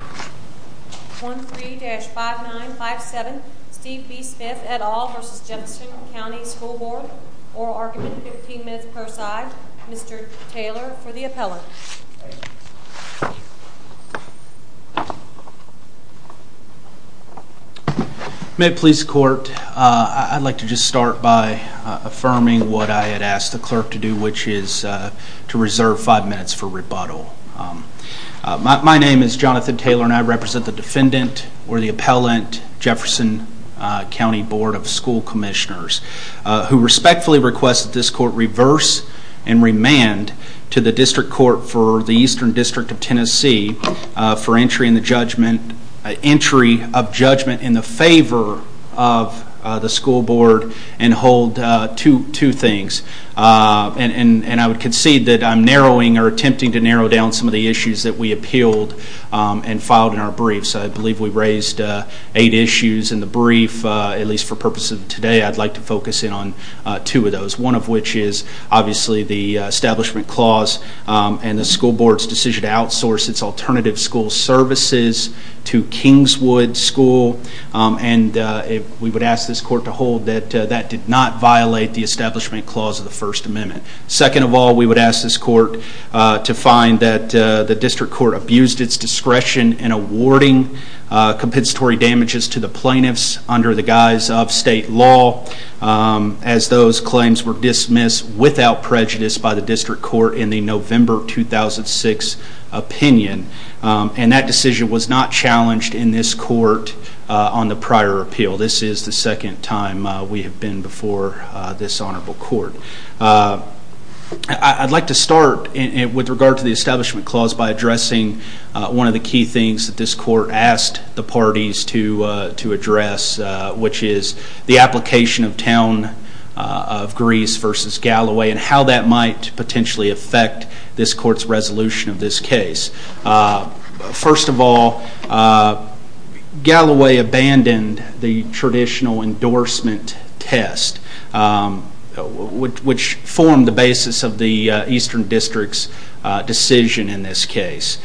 1-3-5957 Steve B Smith et al. v. Jefferson County School Board. Oral argument, 15 minutes per side. Mr. Taylor for the appellant. May it please the court, I'd like to just start by affirming what I had asked the clerk to do, which is to reserve five minutes for rebuttal. My name is Jonathan Taylor and I represent the defendant, or the appellant, Jefferson County Board of School Commissioners, who respectfully request that this court reverse and remand to the District Court for the Eastern District of Tennessee for entry of judgment in the favor of the school board and hold two things. And I would concede that I'm narrowing or attempting to narrow down some of the issues that we appealed and filed in our briefs. I believe we raised eight issues in the brief, at least for the purpose of today, I'd like to focus in on two of those. One of which is obviously the establishment clause and the school board's decision to outsource its alternative school services to Kingswood School. We would ask this court to hold that that did not violate the establishment clause of the First Amendment. Second of all, we would ask this court to find that the District Court abused its discretion in awarding compensatory damages to the plaintiffs under the guise of state law, as those claims were dismissed without prejudice by the District Court in the November 2006 opinion. And that decision was not challenged in this court on the prior appeal. This is the second time we have been before this honorable court. I'd like to start with regard to the establishment clause by addressing one of the key things that this court asked the parties to address, which is the application of Town of Grease v. Galloway and how that might potentially affect this court's resolution of this case. First of all, Galloway abandoned the traditional endorsement test, which formed the basis of the Eastern District's decision in this case.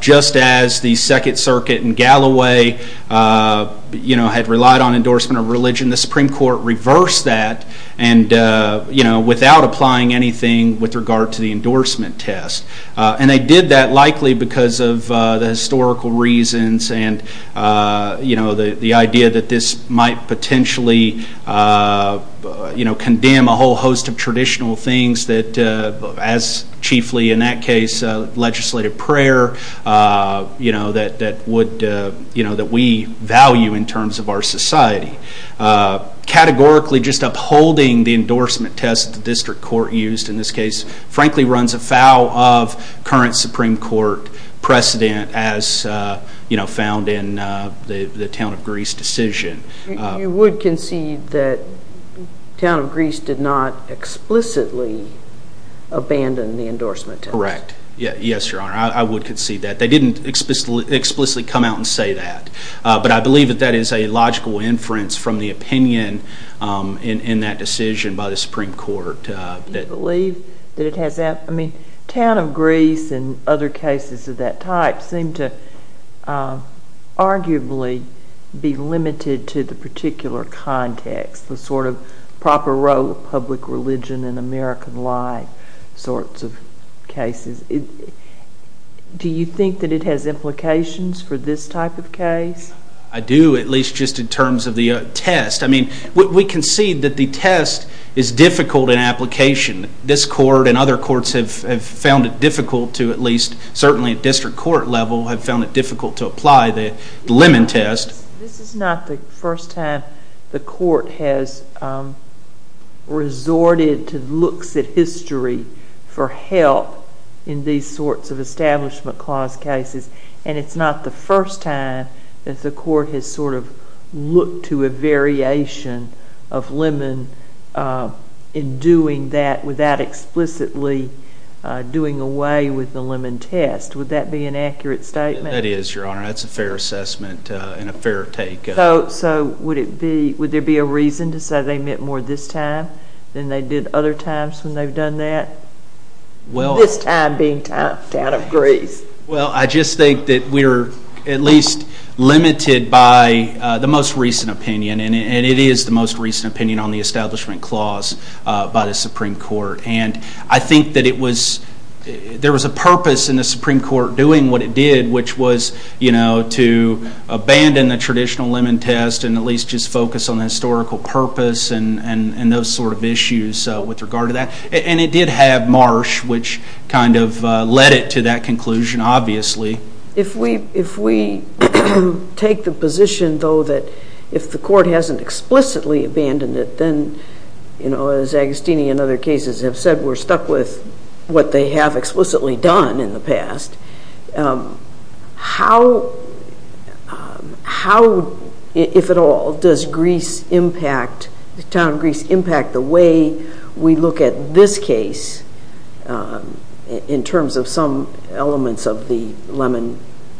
Just as the Second Circuit in Galloway had relied on endorsement of religion, the Supreme Court reversed that without applying anything with regard to the endorsement test. And they did that likely because of the historical reasons and the idea that this might potentially condemn a whole host of traditional things that, as chiefly in that case, legislative prayer that we value in terms of our society. Categorically, just upholding the endorsement test that the District Court used in this case frankly runs afoul of current Supreme Court precedent as found in the Town of Grease decision. You would concede that Town of Grease did not explicitly abandon the endorsement test? Correct. Yes, Your Honor, I would concede that. They didn't explicitly come out and say that. But I believe that that is a logical inference from the opinion in that decision by the Supreme Court. Do you believe that it has – I mean, Town of Grease and other cases of that type seem to arguably be limited to the particular context, the sort of proper role of public religion in American life sorts of cases. Do you think that it has implications for this type of case? I do, at least just in terms of the test. I mean, we concede that the test is difficult in application. This Court and other courts have found it difficult to, at least certainly at District Court level, have found it difficult to apply the Lemon test. This is not the first time the Court has resorted to looks at history for help in these sorts of Establishment Clause cases, and it's not the first time that the Court has sort of looked to a variation of Lemon in doing that without explicitly doing away with the Lemon test. Would that be an accurate statement? That is, Your Honor. That's a fair assessment and a fair take. So would there be a reason to say they meant more this time than they did other times when they've done that? This time being Town of Grease. Well, I just think that we are at least limited by the most recent opinion, and it is the most recent opinion on the Establishment Clause by the Supreme Court. And I think that there was a purpose in the Supreme Court doing what it did, which was, you know, to abandon the traditional Lemon test and at least just focus on the historical purpose and those sort of issues with regard to that. And it did have Marsh, which kind of led it to that conclusion, obviously. If we take the position, though, that if the Court hasn't explicitly abandoned it, then, you know, as Agostini and other cases have said, we're stuck with what they have explicitly done in the past, how, if at all, does Town of Grease impact the way we look at this case in terms of some elements of the Lemon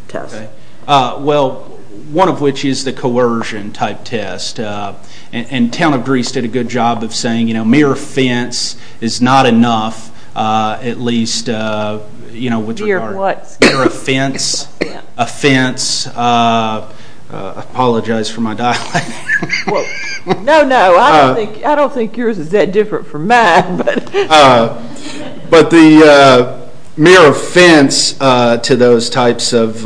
test? Well, one of which is the coercion-type test, and Town of Grease did a good job of saying, you know, mere offense is not enough, at least, you know, with regard to mere offense. I apologize for my dialect. No, no, I don't think yours is that different from mine. But the mere offense to those types of,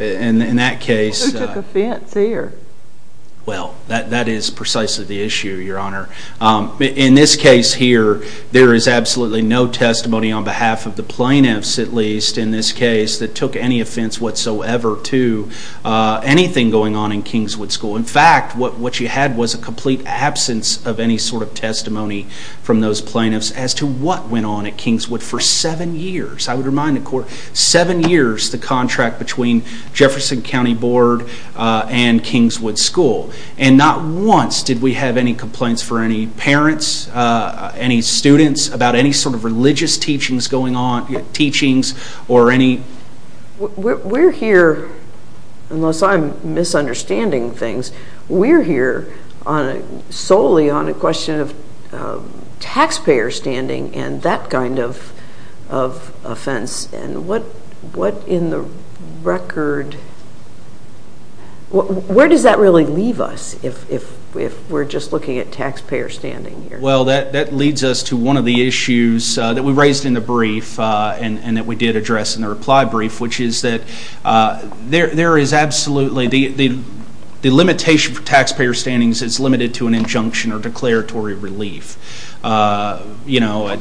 in that case. Who took offense here? Well, that is precisely the issue, Your Honor. In this case here, there is absolutely no testimony on behalf of the plaintiffs, at least, in this case, that took any offense whatsoever to anything going on in Kingswood School. In fact, what you had was a complete absence of any sort of testimony from those plaintiffs as to what went on at Kingswood for seven years. I would remind the Court, seven years, the contract between Jefferson County Board and Kingswood School. And not once did we have any complaints for any parents, any students, about any sort of religious teachings going on, teachings or any... We're here, unless I'm misunderstanding things, we're here solely on a question of taxpayer standing and that kind of offense. And what in the record, where does that really leave us if we're just looking at taxpayer standing here? Well, that leads us to one of the issues that we raised in the brief and that we did address in the reply brief, which is that there is absolutely... The limitation for taxpayer standings is limited to an injunction or declaratory relief. You know,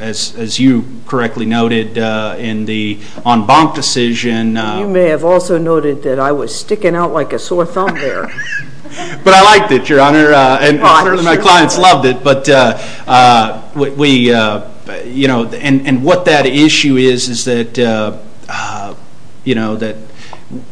as you correctly noted in the en banc decision... You may have also noted that I was sticking out like a sore thumb there. But I liked it, Your Honor, and my clients loved it. And what that issue is, is that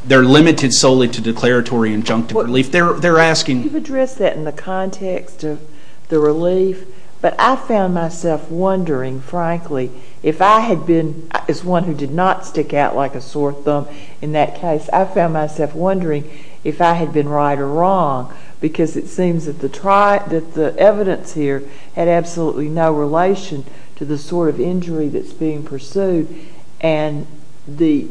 they're limited solely to declaratory injunctive relief. They're asking... You've addressed that in the context of the relief, but I found myself wondering, frankly, if I had been... As one who did not stick out like a sore thumb in that case, I found myself wondering if I had been right or wrong because it seems that the evidence here had absolutely no relation to the sort of injury that's being pursued and the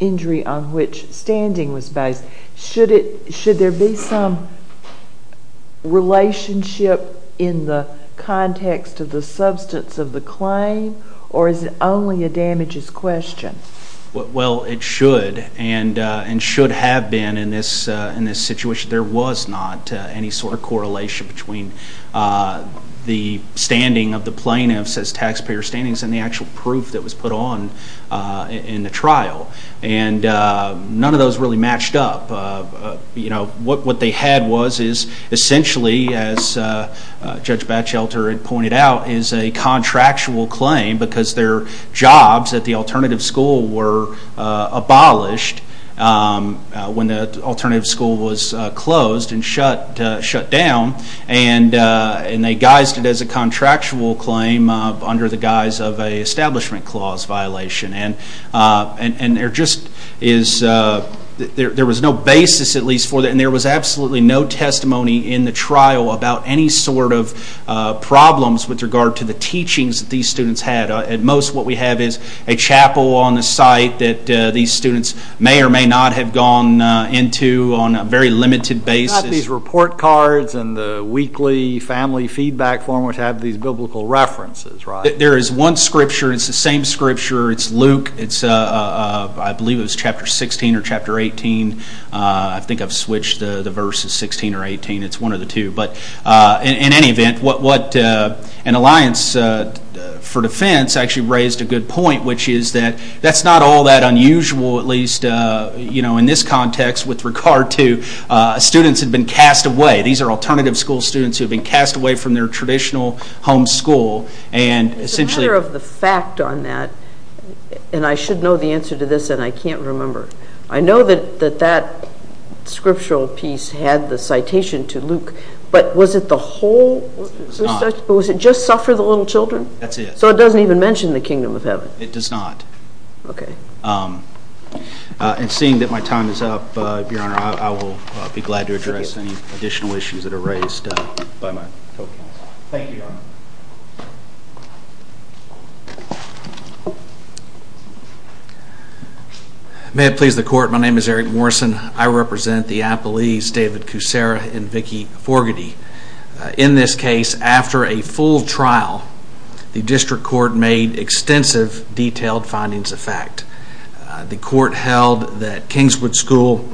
injury on which standing was based. Should there be some relationship in the context of the substance of the claim, or is it only a damages question? Well, it should, and should have been in this situation. There was not any sort of correlation between the standing of the plaintiffs as taxpayer standings and the actual proof that was put on in the trial. And none of those really matched up. What they had was essentially, as Judge Batchelter had pointed out, is a contractual claim because their jobs at the alternative school were abolished when the alternative school was closed and shut down. And they guised it as a contractual claim under the guise of an establishment clause violation. And there was no basis, at least for that, and there was absolutely no testimony in the trial about any sort of problems with regard to the teachings that these students had. At most, what we have is a chapel on the site that these students may or may not have gone into on a very limited basis. You have these report cards and the weekly family feedback form which have these biblical references, right? There is one scripture. It's the same scripture. It's Luke. I believe it was chapter 16 or chapter 18. I think I've switched the verses, 16 or 18. It's one of the two. But in any event, what an alliance for defense actually raised a good point, which is that that's not all that unusual, at least in this context, with regard to students who have been cast away. These are alternative school students who have been cast away from their traditional home school and essentially... It's a matter of the fact on that, and I should know the answer to this and I can't remember. I know that that scriptural piece had the citation to Luke, but was it the whole... It's not. Was it just suffer the little children? That's it. So it doesn't even mention the kingdom of heaven. It does not. Okay. And seeing that my time is up, Your Honor, I will be glad to address any additional issues that are raised by my co-counsel. Thank you, Your Honor. Thank you. May it please the Court, my name is Eric Morrison. I represent the appellees David Kucera and Vicki Forgaty. In this case, after a full trial, the district court made extensive detailed findings of fact. The court held that Kingswood School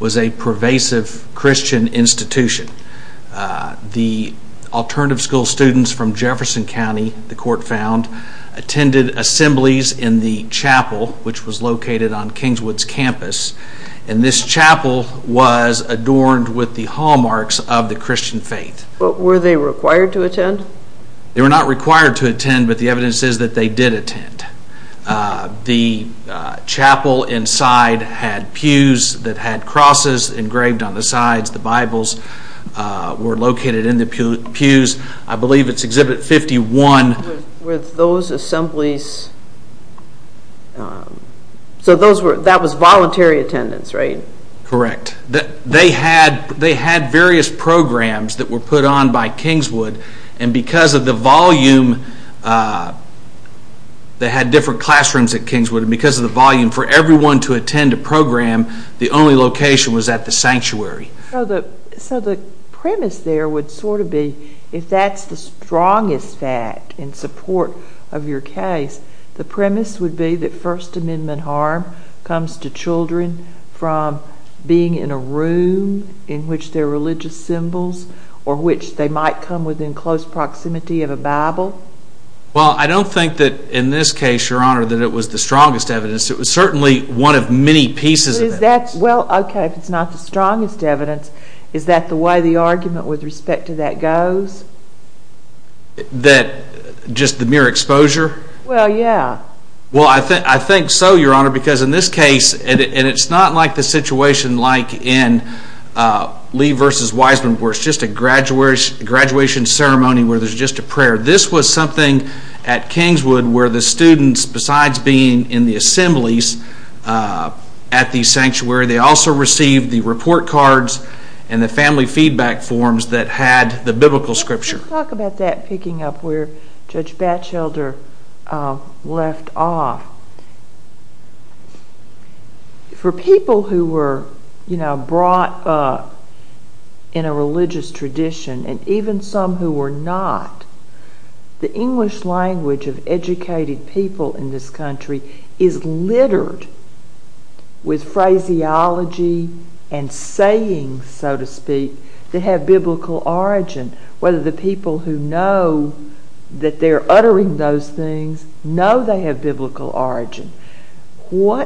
was a pervasive Christian institution. The alternative school students from Jefferson County, the court found, attended assemblies in the chapel, which was located on Kingswood's campus, and this chapel was adorned with the hallmarks of the Christian faith. Were they required to attend? They were not required to attend, but the evidence is that they did attend. The chapel inside had pews that had crosses engraved on the sides, the Bibles were located in the pews. I believe it's Exhibit 51. Were those assemblies, so that was voluntary attendance, right? Correct. They had various programs that were put on by Kingswood, and because of the volume, they had different classrooms at Kingswood, and because of the volume, for everyone to attend a program, the only location was at the sanctuary. So the premise there would sort of be, if that's the strongest fact in support of your case, the premise would be that First Amendment harm comes to children from being in a room in which there are religious symbols or which they might come within close proximity of a Bible? Well, I don't think that in this case, Your Honor, that it was the strongest evidence. It was certainly one of many pieces of evidence. Well, okay, if it's not the strongest evidence, is that the way the argument with respect to that goes? That just the mere exposure? Well, yeah. Well, I think so, Your Honor, because in this case, and it's not like the situation like in Lee v. Wiseman where it's just a graduation ceremony where there's just a prayer. This was something at Kingswood where the students, besides being in the assemblies at the sanctuary, they also received the report cards and the family feedback forms that had the biblical scripture. Let's talk about that, picking up where Judge Batchelder left off. For people who were brought up in a religious tradition, and even some who were not, the English language of educated people in this country is littered with phraseology and sayings, so to speak, that have biblical origin, whether the people who know that they're uttering those things know they have biblical origin. Now,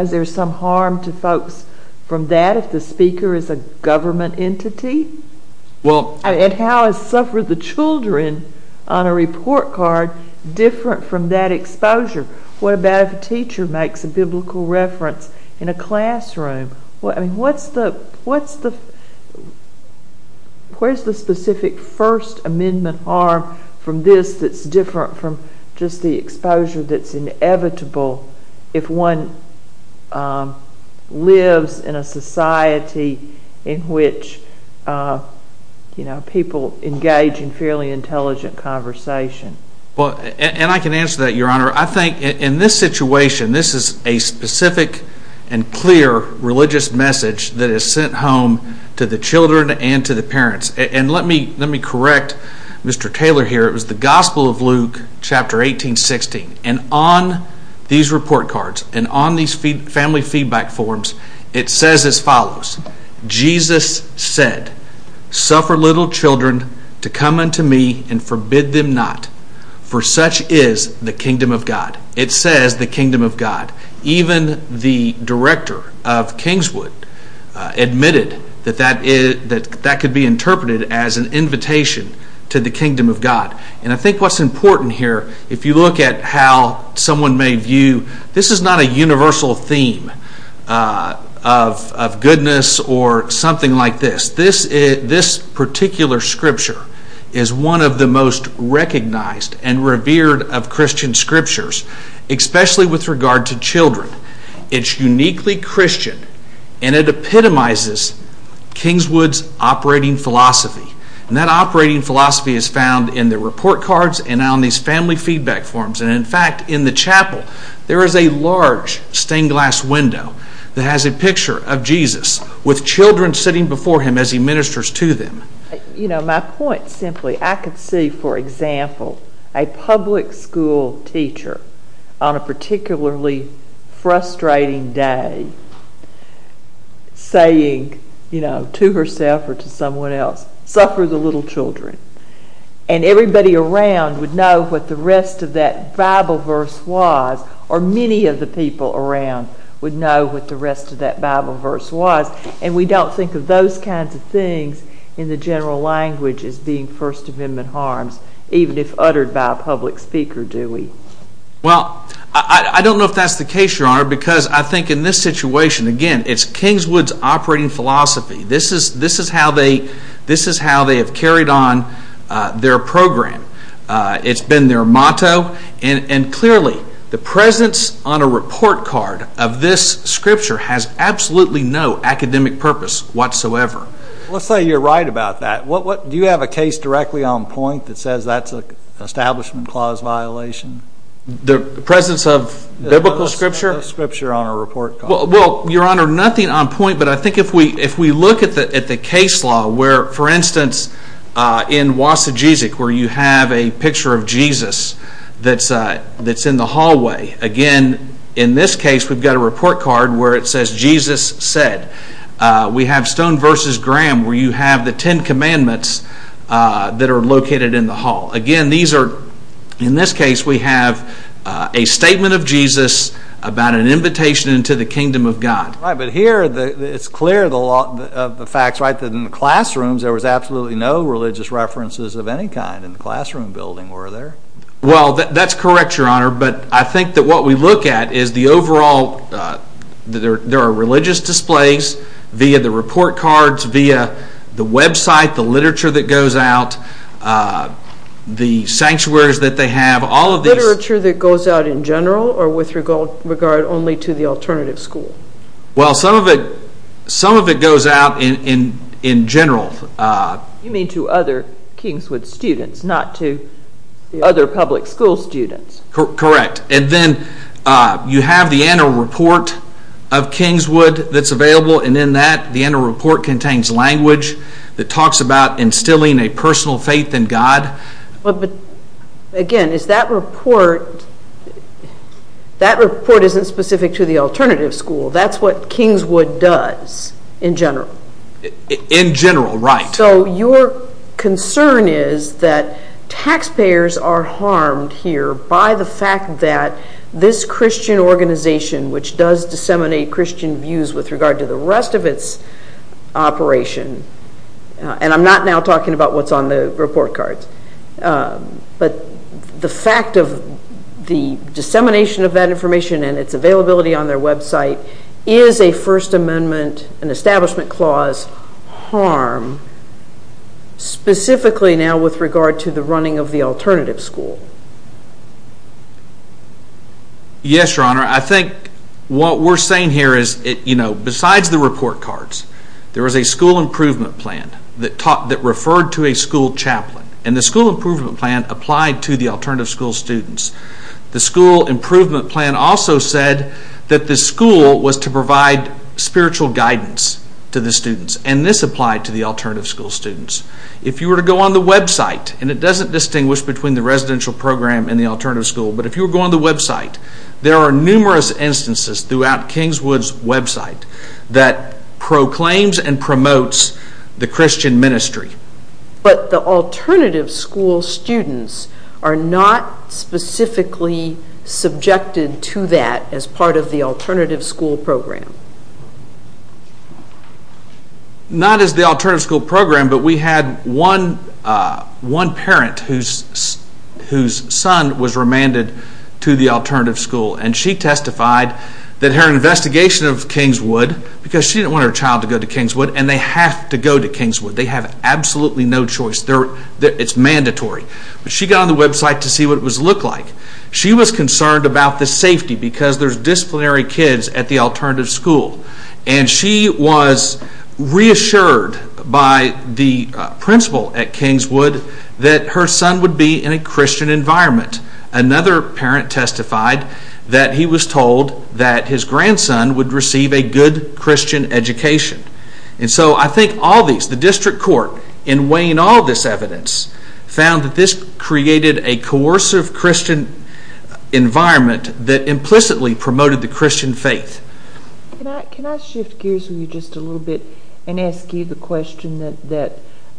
is there some harm to folks from that if the speaker is a government entity? And how is suffering the children on a report card different from that exposure? What about if a teacher makes a biblical reference in a classroom? What's the specific First Amendment harm from this that's different from just the exposure that's inevitable if one lives in a society in which people engage in fairly intelligent conversation? And I can answer that, Your Honor. I think in this situation, this is a specific and clear religious message that is sent home to the children and to the parents. And let me correct Mr. Taylor here. It was the Gospel of Luke, Chapter 18, 16. And on these report cards and on these family feedback forms, it says as follows, Jesus said, Suffer little children to come unto me and forbid them not, for such is the kingdom of God. It says the kingdom of God. Even the director of Kingswood admitted that that could be interpreted as an invitation to the kingdom of God. And I think what's important here, if you look at how someone may view, this is not a universal theme of goodness or something like this. This particular scripture is one of the most recognized and revered of Christian scriptures, especially with regard to children. It's uniquely Christian, and it epitomizes Kingswood's operating philosophy. And that operating philosophy is found in the report cards and on these family feedback forms. And in fact, in the chapel, there is a large stained glass window that has a picture of Jesus with children sitting before him as he ministers to them. You know, my point simply, I could see, for example, a public school teacher on a particularly frustrating day saying to herself or to someone else, Suffer the little children. And everybody around would know what the rest of that Bible verse was, or many of the people around would know what the rest of that Bible verse was. And we don't think of those kinds of things in the general language as being First Amendment harms, even if uttered by a public speaker, do we? Well, I don't know if that's the case, Your Honor, because I think in this situation, again, it's Kingswood's operating philosophy. This is how they have carried on their program. It's been their motto. And clearly, the presence on a report card of this scripture has absolutely no academic purpose whatsoever. Let's say you're right about that. Do you have a case directly on point that says that's an Establishment Clause violation? The presence of biblical scripture? The presence of scripture on a report card. Well, Your Honor, nothing on point, but I think if we look at the case law, where, for instance, in Wasajizik, where you have a picture of Jesus that's in the hallway, again, in this case, we've got a report card where it says, Jesus said. We have Stone v. Graham, where you have the Ten Commandments that are located in the hall. Again, these are... In this case, we have a statement of Jesus about an invitation into the kingdom of God. Right, but here, it's clear of the facts, right, that in the classrooms, there was absolutely no religious references of any kind in the classroom building, were there? Well, that's correct, Your Honor, but I think that what we look at is the overall... There are religious displays via the report cards, via the website, the literature that goes out, the sanctuaries that they have, all of these... The literature that goes out in general or with regard only to the alternative school? Well, some of it... Some of it goes out in general. You mean to other Kingswood students, not to other public school students. Correct, and then you have the annual report of Kingswood that's available, and in that, the annual report contains language that talks about instilling a personal faith in God. But, again, is that report... That report isn't specific to the alternative school. That's what Kingswood does in general. In general, right. So your concern is that taxpayers are harmed here by the fact that this Christian organization, which does disseminate Christian views with regard to the rest of its operation, and I'm not now talking about what's on the report cards, but the fact of the dissemination of that information and its availability on their website is a First Amendment, an establishment clause, harm specifically now with regard to the running of the alternative school? Yes, Your Honor, I think what we're saying here is besides the report cards, there is a school improvement plan that referred to a school chaplain, and the school improvement plan applied to the alternative school students. The school improvement plan also said that the school was to provide spiritual guidance to the students, and this applied to the alternative school students. If you were to go on the website, and it doesn't distinguish between the residential program and the alternative school, but if you were to go on the website, there are numerous instances throughout Kingswood's website that proclaims and promotes the Christian ministry. But the alternative school students are not specifically subjected to that as part of the alternative school program. Not as the alternative school program, but we had one parent whose son was remanded to the alternative school, and she testified that her investigation of Kingswood, because she didn't want her child to go to Kingswood, and they have to go to Kingswood. They have absolutely no choice. It's mandatory. But she got on the website to see what it looked like. She was concerned about the safety because there's disciplinary kids at the alternative school, and she was reassured by the principal at Kingswood that her son would be in a Christian environment. Another parent testified that he was told that his grandson would receive a good Christian education. And so I think all these, the district court, in weighing all this evidence, found that this created a coercive Christian environment that implicitly promoted the Christian faith. Can I shift gears with you just a little bit and ask you the question that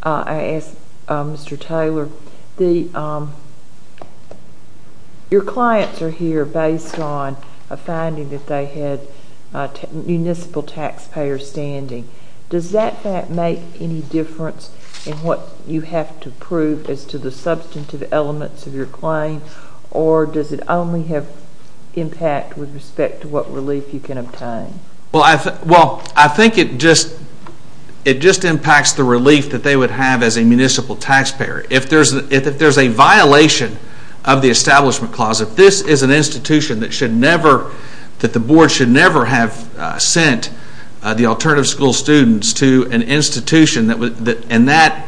I asked Mr. Taylor? Your clients are here based on a finding that they had municipal taxpayer standing. Does that make any difference in what you have to prove as to the substantive elements of your claim, or does it only have impact with respect to what relief you can obtain? Well, I think it just impacts the relief that they would have as a municipal taxpayer. If there's a violation of the Establishment Clause, if this is an institution that the board should never have sent the alternative school students to an institution and that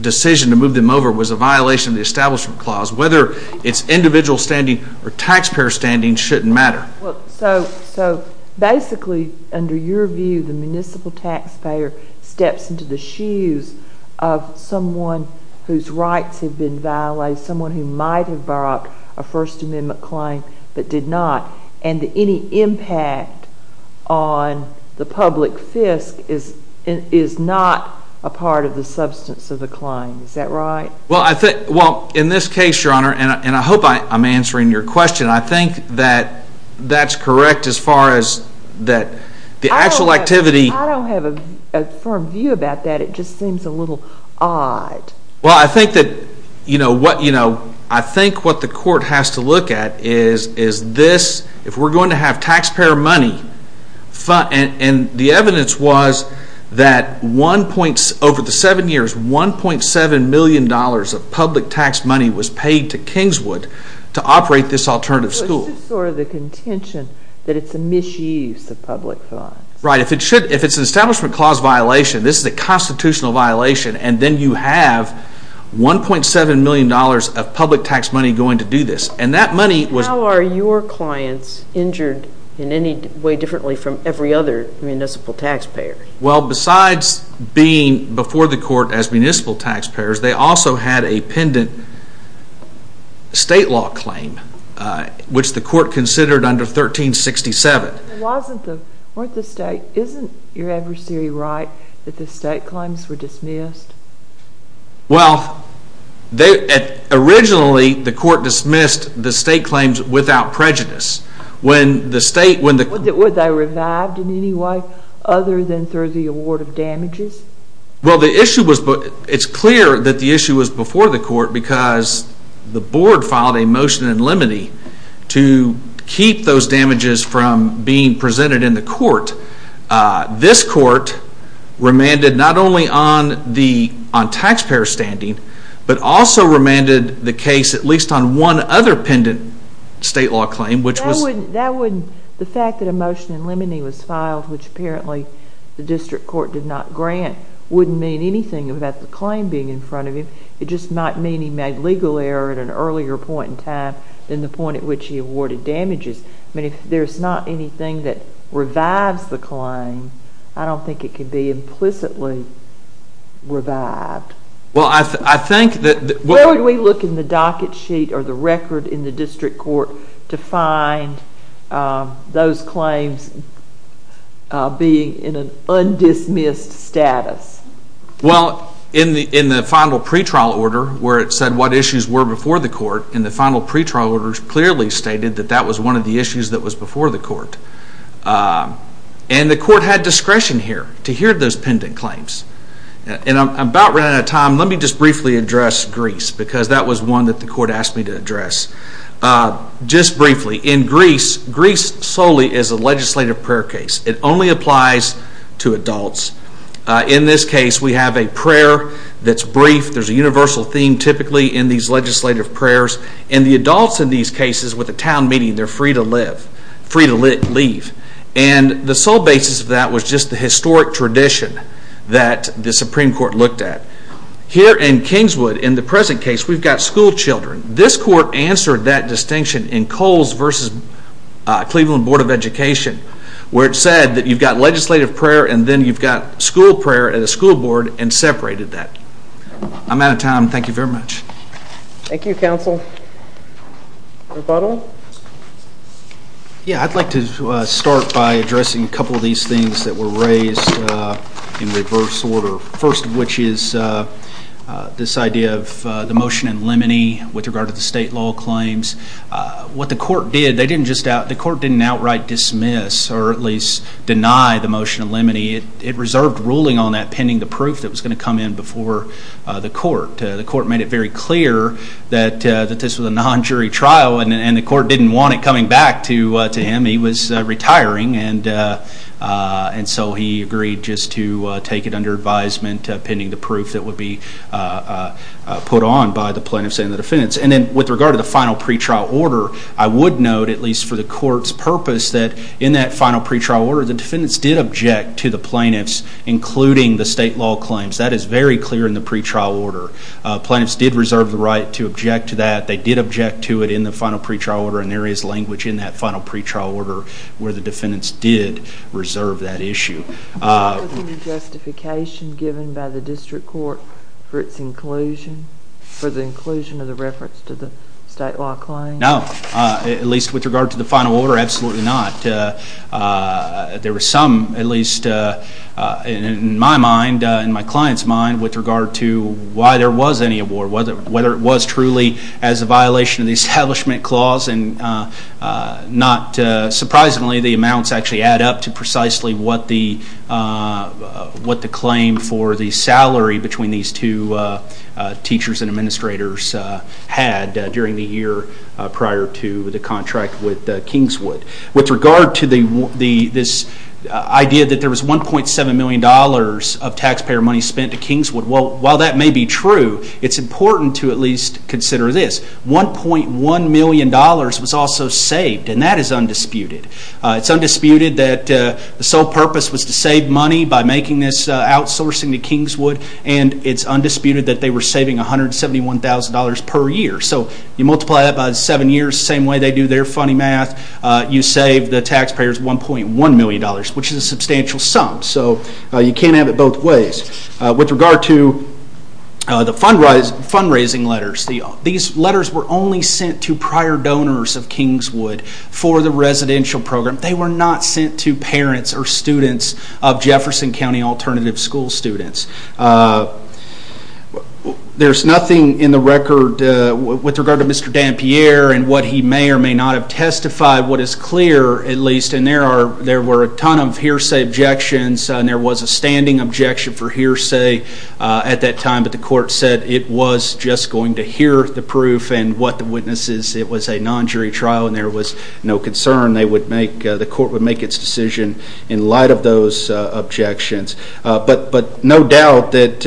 decision to move them over was a violation of the Establishment Clause, whether it's individual standing or taxpayer standing shouldn't matter. So basically, under your view, the municipal taxpayer steps into the shoes of someone whose rights have been violated, someone who might have brought a First Amendment claim, but did not, and any impact on the public fisc is not a part of the substance of the claim. Is that right? Well, in this case, Your Honor, and I hope I'm answering your question, I think that that's correct as far as that the actual activity... I don't have a firm view about that. It just seems a little odd. Well, I think that, you know, I think what the court has to look at is this, if we're going to have taxpayer money, and the evidence was that over the seven years, $1.7 million of public tax money was paid to Kingswood to operate this alternative school. So it's just sort of the contention that it's a misuse of public funds. Right, if it's an Establishment Clause violation, this is a constitutional violation, and then you have $1.7 million of public tax money going to do this. And that money was... How are your clients injured in any way differently from every other municipal taxpayer? Well, besides being before the court as municipal taxpayers, they also had a pendent state law claim, which the court considered under 1367. Wasn't the state... Isn't your adversary right that the state claims were dismissed? Well, they... Originally, the court dismissed the state claims without prejudice. When the state... Were they revived in any way other than through the award of damages? Well, the issue was... It's clear that the issue was before the court because the board filed a motion in limine to keep those damages from being presented in the court. This court remanded not only on taxpayer standing, but also remanded the case at least on one other pendent state law claim, which was... That wouldn't... The fact that a motion in limine was filed, which apparently the district court did not grant, wouldn't mean anything about the claim being in front of him. It just might mean he made legal error at an earlier point in time than the point at which he awarded damages. I mean, if there's not anything that revives the claim, I don't think it could be implicitly revived. Well, I think that... Where would we look in the docket sheet or the record in the district court to find those claims being in an undismissed status? Well, in the final pretrial order, where it said what issues were before the court, in the final pretrial order, it clearly stated that that was one of the issues that was before the court. And the court had discretion here to hear those pendent claims. And I'm about running out of time. Let me just briefly address Greece because that was one that the court asked me to address. Just briefly, in Greece, Greece solely is a legislative prayer case. It only applies to adults. In this case, we have a prayer that's brief. There's a universal theme typically in these legislative prayers. And the adults in these cases, with a town meeting, they're free to leave. And the sole basis of that was just the historic tradition that the Supreme Court looked at. Here in Kingswood, in the present case, we've got school children. This court answered that distinction in Coles v. Cleveland Board of Education where it said that you've got legislative prayer and then you've got school prayer and a school board and separated that. I'm out of time. Thank you very much. Thank you, Counsel. Rebuttal? Yeah, I'd like to start by addressing a couple of these things that were raised in reverse order, first of which is this idea of the motion in limine with regard to the state law claims. What the court did, they didn't just out, the court didn't outright dismiss or at least deny the motion in limine. It reserved ruling on that pending the proof that was going to come in before the court. The court made it very clear that this was a non-jury trial and the court didn't want it coming back to him. He was retiring and so he agreed just to take it under advisement pending the proof that would be put on by the plaintiffs and the defendants. And then with regard to the final pretrial order, I would note, at least for the court's purpose, that in that final pretrial order, the defendants did object to the plaintiffs, including the state law claims. That is very clear in the pretrial order. Plaintiffs did reserve the right to object to that. They did object to it in the final pretrial order and there is language in that final pretrial order where the defendants did reserve that issue. Was there any justification given by the district court for its inclusion, for the inclusion of the reference to the state law claims? No. At least with regard to the final order, absolutely not. There were some, at least in my mind, in my client's mind, with regard to why there was any award, whether it was truly as a violation of the Establishment Clause and not surprisingly the amounts actually add up to precisely what the claim for the salary between these two teachers and administrators had during the year prior to the contract with Kingswood. With regard to this idea that there was $1.7 million of taxpayer money spent to Kingswood, while that may be true, it's important to at least consider this. $1.1 million was also saved and that is undisputed. It's undisputed that the sole purpose was to save money by making this outsourcing to Kingswood and it's undisputed that they were saving $171,000 per year. So you multiply that by seven years, the same way they do their funny math, you save the taxpayers $1.1 million, which is a substantial sum. So you can't have it both ways. With regard to the fundraising letters, these letters were only sent to prior donors of Kingswood for the residential program. They were not sent to parents or students of Jefferson County Alternative School students. There's nothing in the record with regard to Mr. Dampierre and what he may or may not have testified, what is clear, at least, and there were a ton of hearsay objections and there was a standing objection for hearsay at that time, but the court said it was just going to hear the proof and what the witness is. It was a non-jury trial and there was no concern the court would make its decision in light of those objections. But no doubt that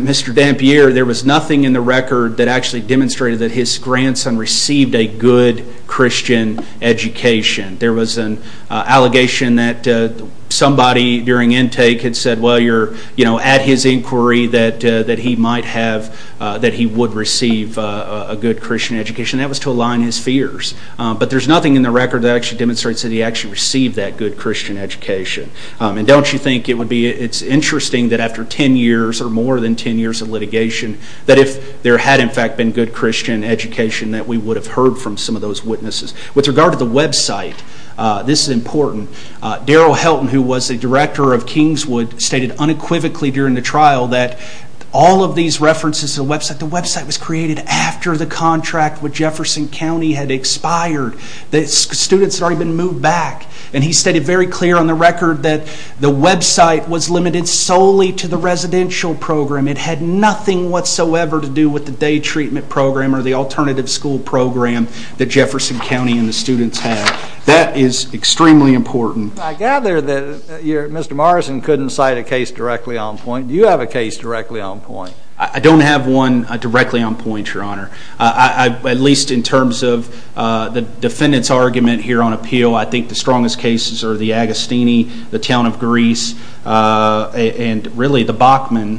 Mr. Dampierre, there was nothing in the record that actually demonstrated that his grandson received a good Christian education. There was an allegation that somebody during intake had said, well, you're at his inquiry that he might have, that he would receive a good Christian education. That was to align his fears. But there's nothing in the record that actually demonstrates that he actually received that good Christian education. And don't you think it's interesting that after 10 years or more than 10 years of litigation, that if there had, in fact, been good Christian education, that we would have heard from some of those witnesses. With regard to the website, this is important. Darrell Helton, who was the director of Kingswood, stated unequivocally during the trial that all of these references to the website, the website was created after the contract with Jefferson County had expired. The students had already been moved back. And he stated very clear on the record that the website was limited solely to the residential program. It had nothing whatsoever to do with the day treatment program or the alternative school program that Jefferson County and the students had. That is extremely important. I gather that Mr. Morrison couldn't cite a case directly on point. Do you have a case directly on point? I don't have one directly on point, Your Honor. At least in terms of the defendant's argument here on appeal, I think the strongest cases are the Agostini, the town of Greece, and really the Bachman,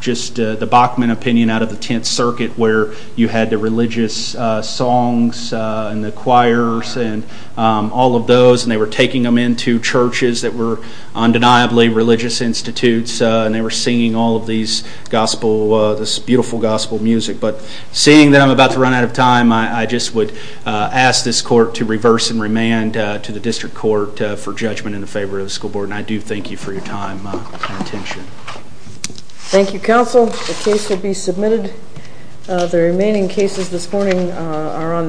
just the Bachman opinion out of the Tenth Circuit where you had the religious songs and the choirs and all of those and they were taking them into churches that were undeniably religious institutes and they were singing all of these gospel, this beautiful gospel music. But seeing that I'm about to run out of time, I just would ask this court to reverse and remand to the district court for judgment in favor of the school board. And I do thank you for your time and attention. Thank you, counsel. The case will be submitted. The remaining cases this morning are on the briefs,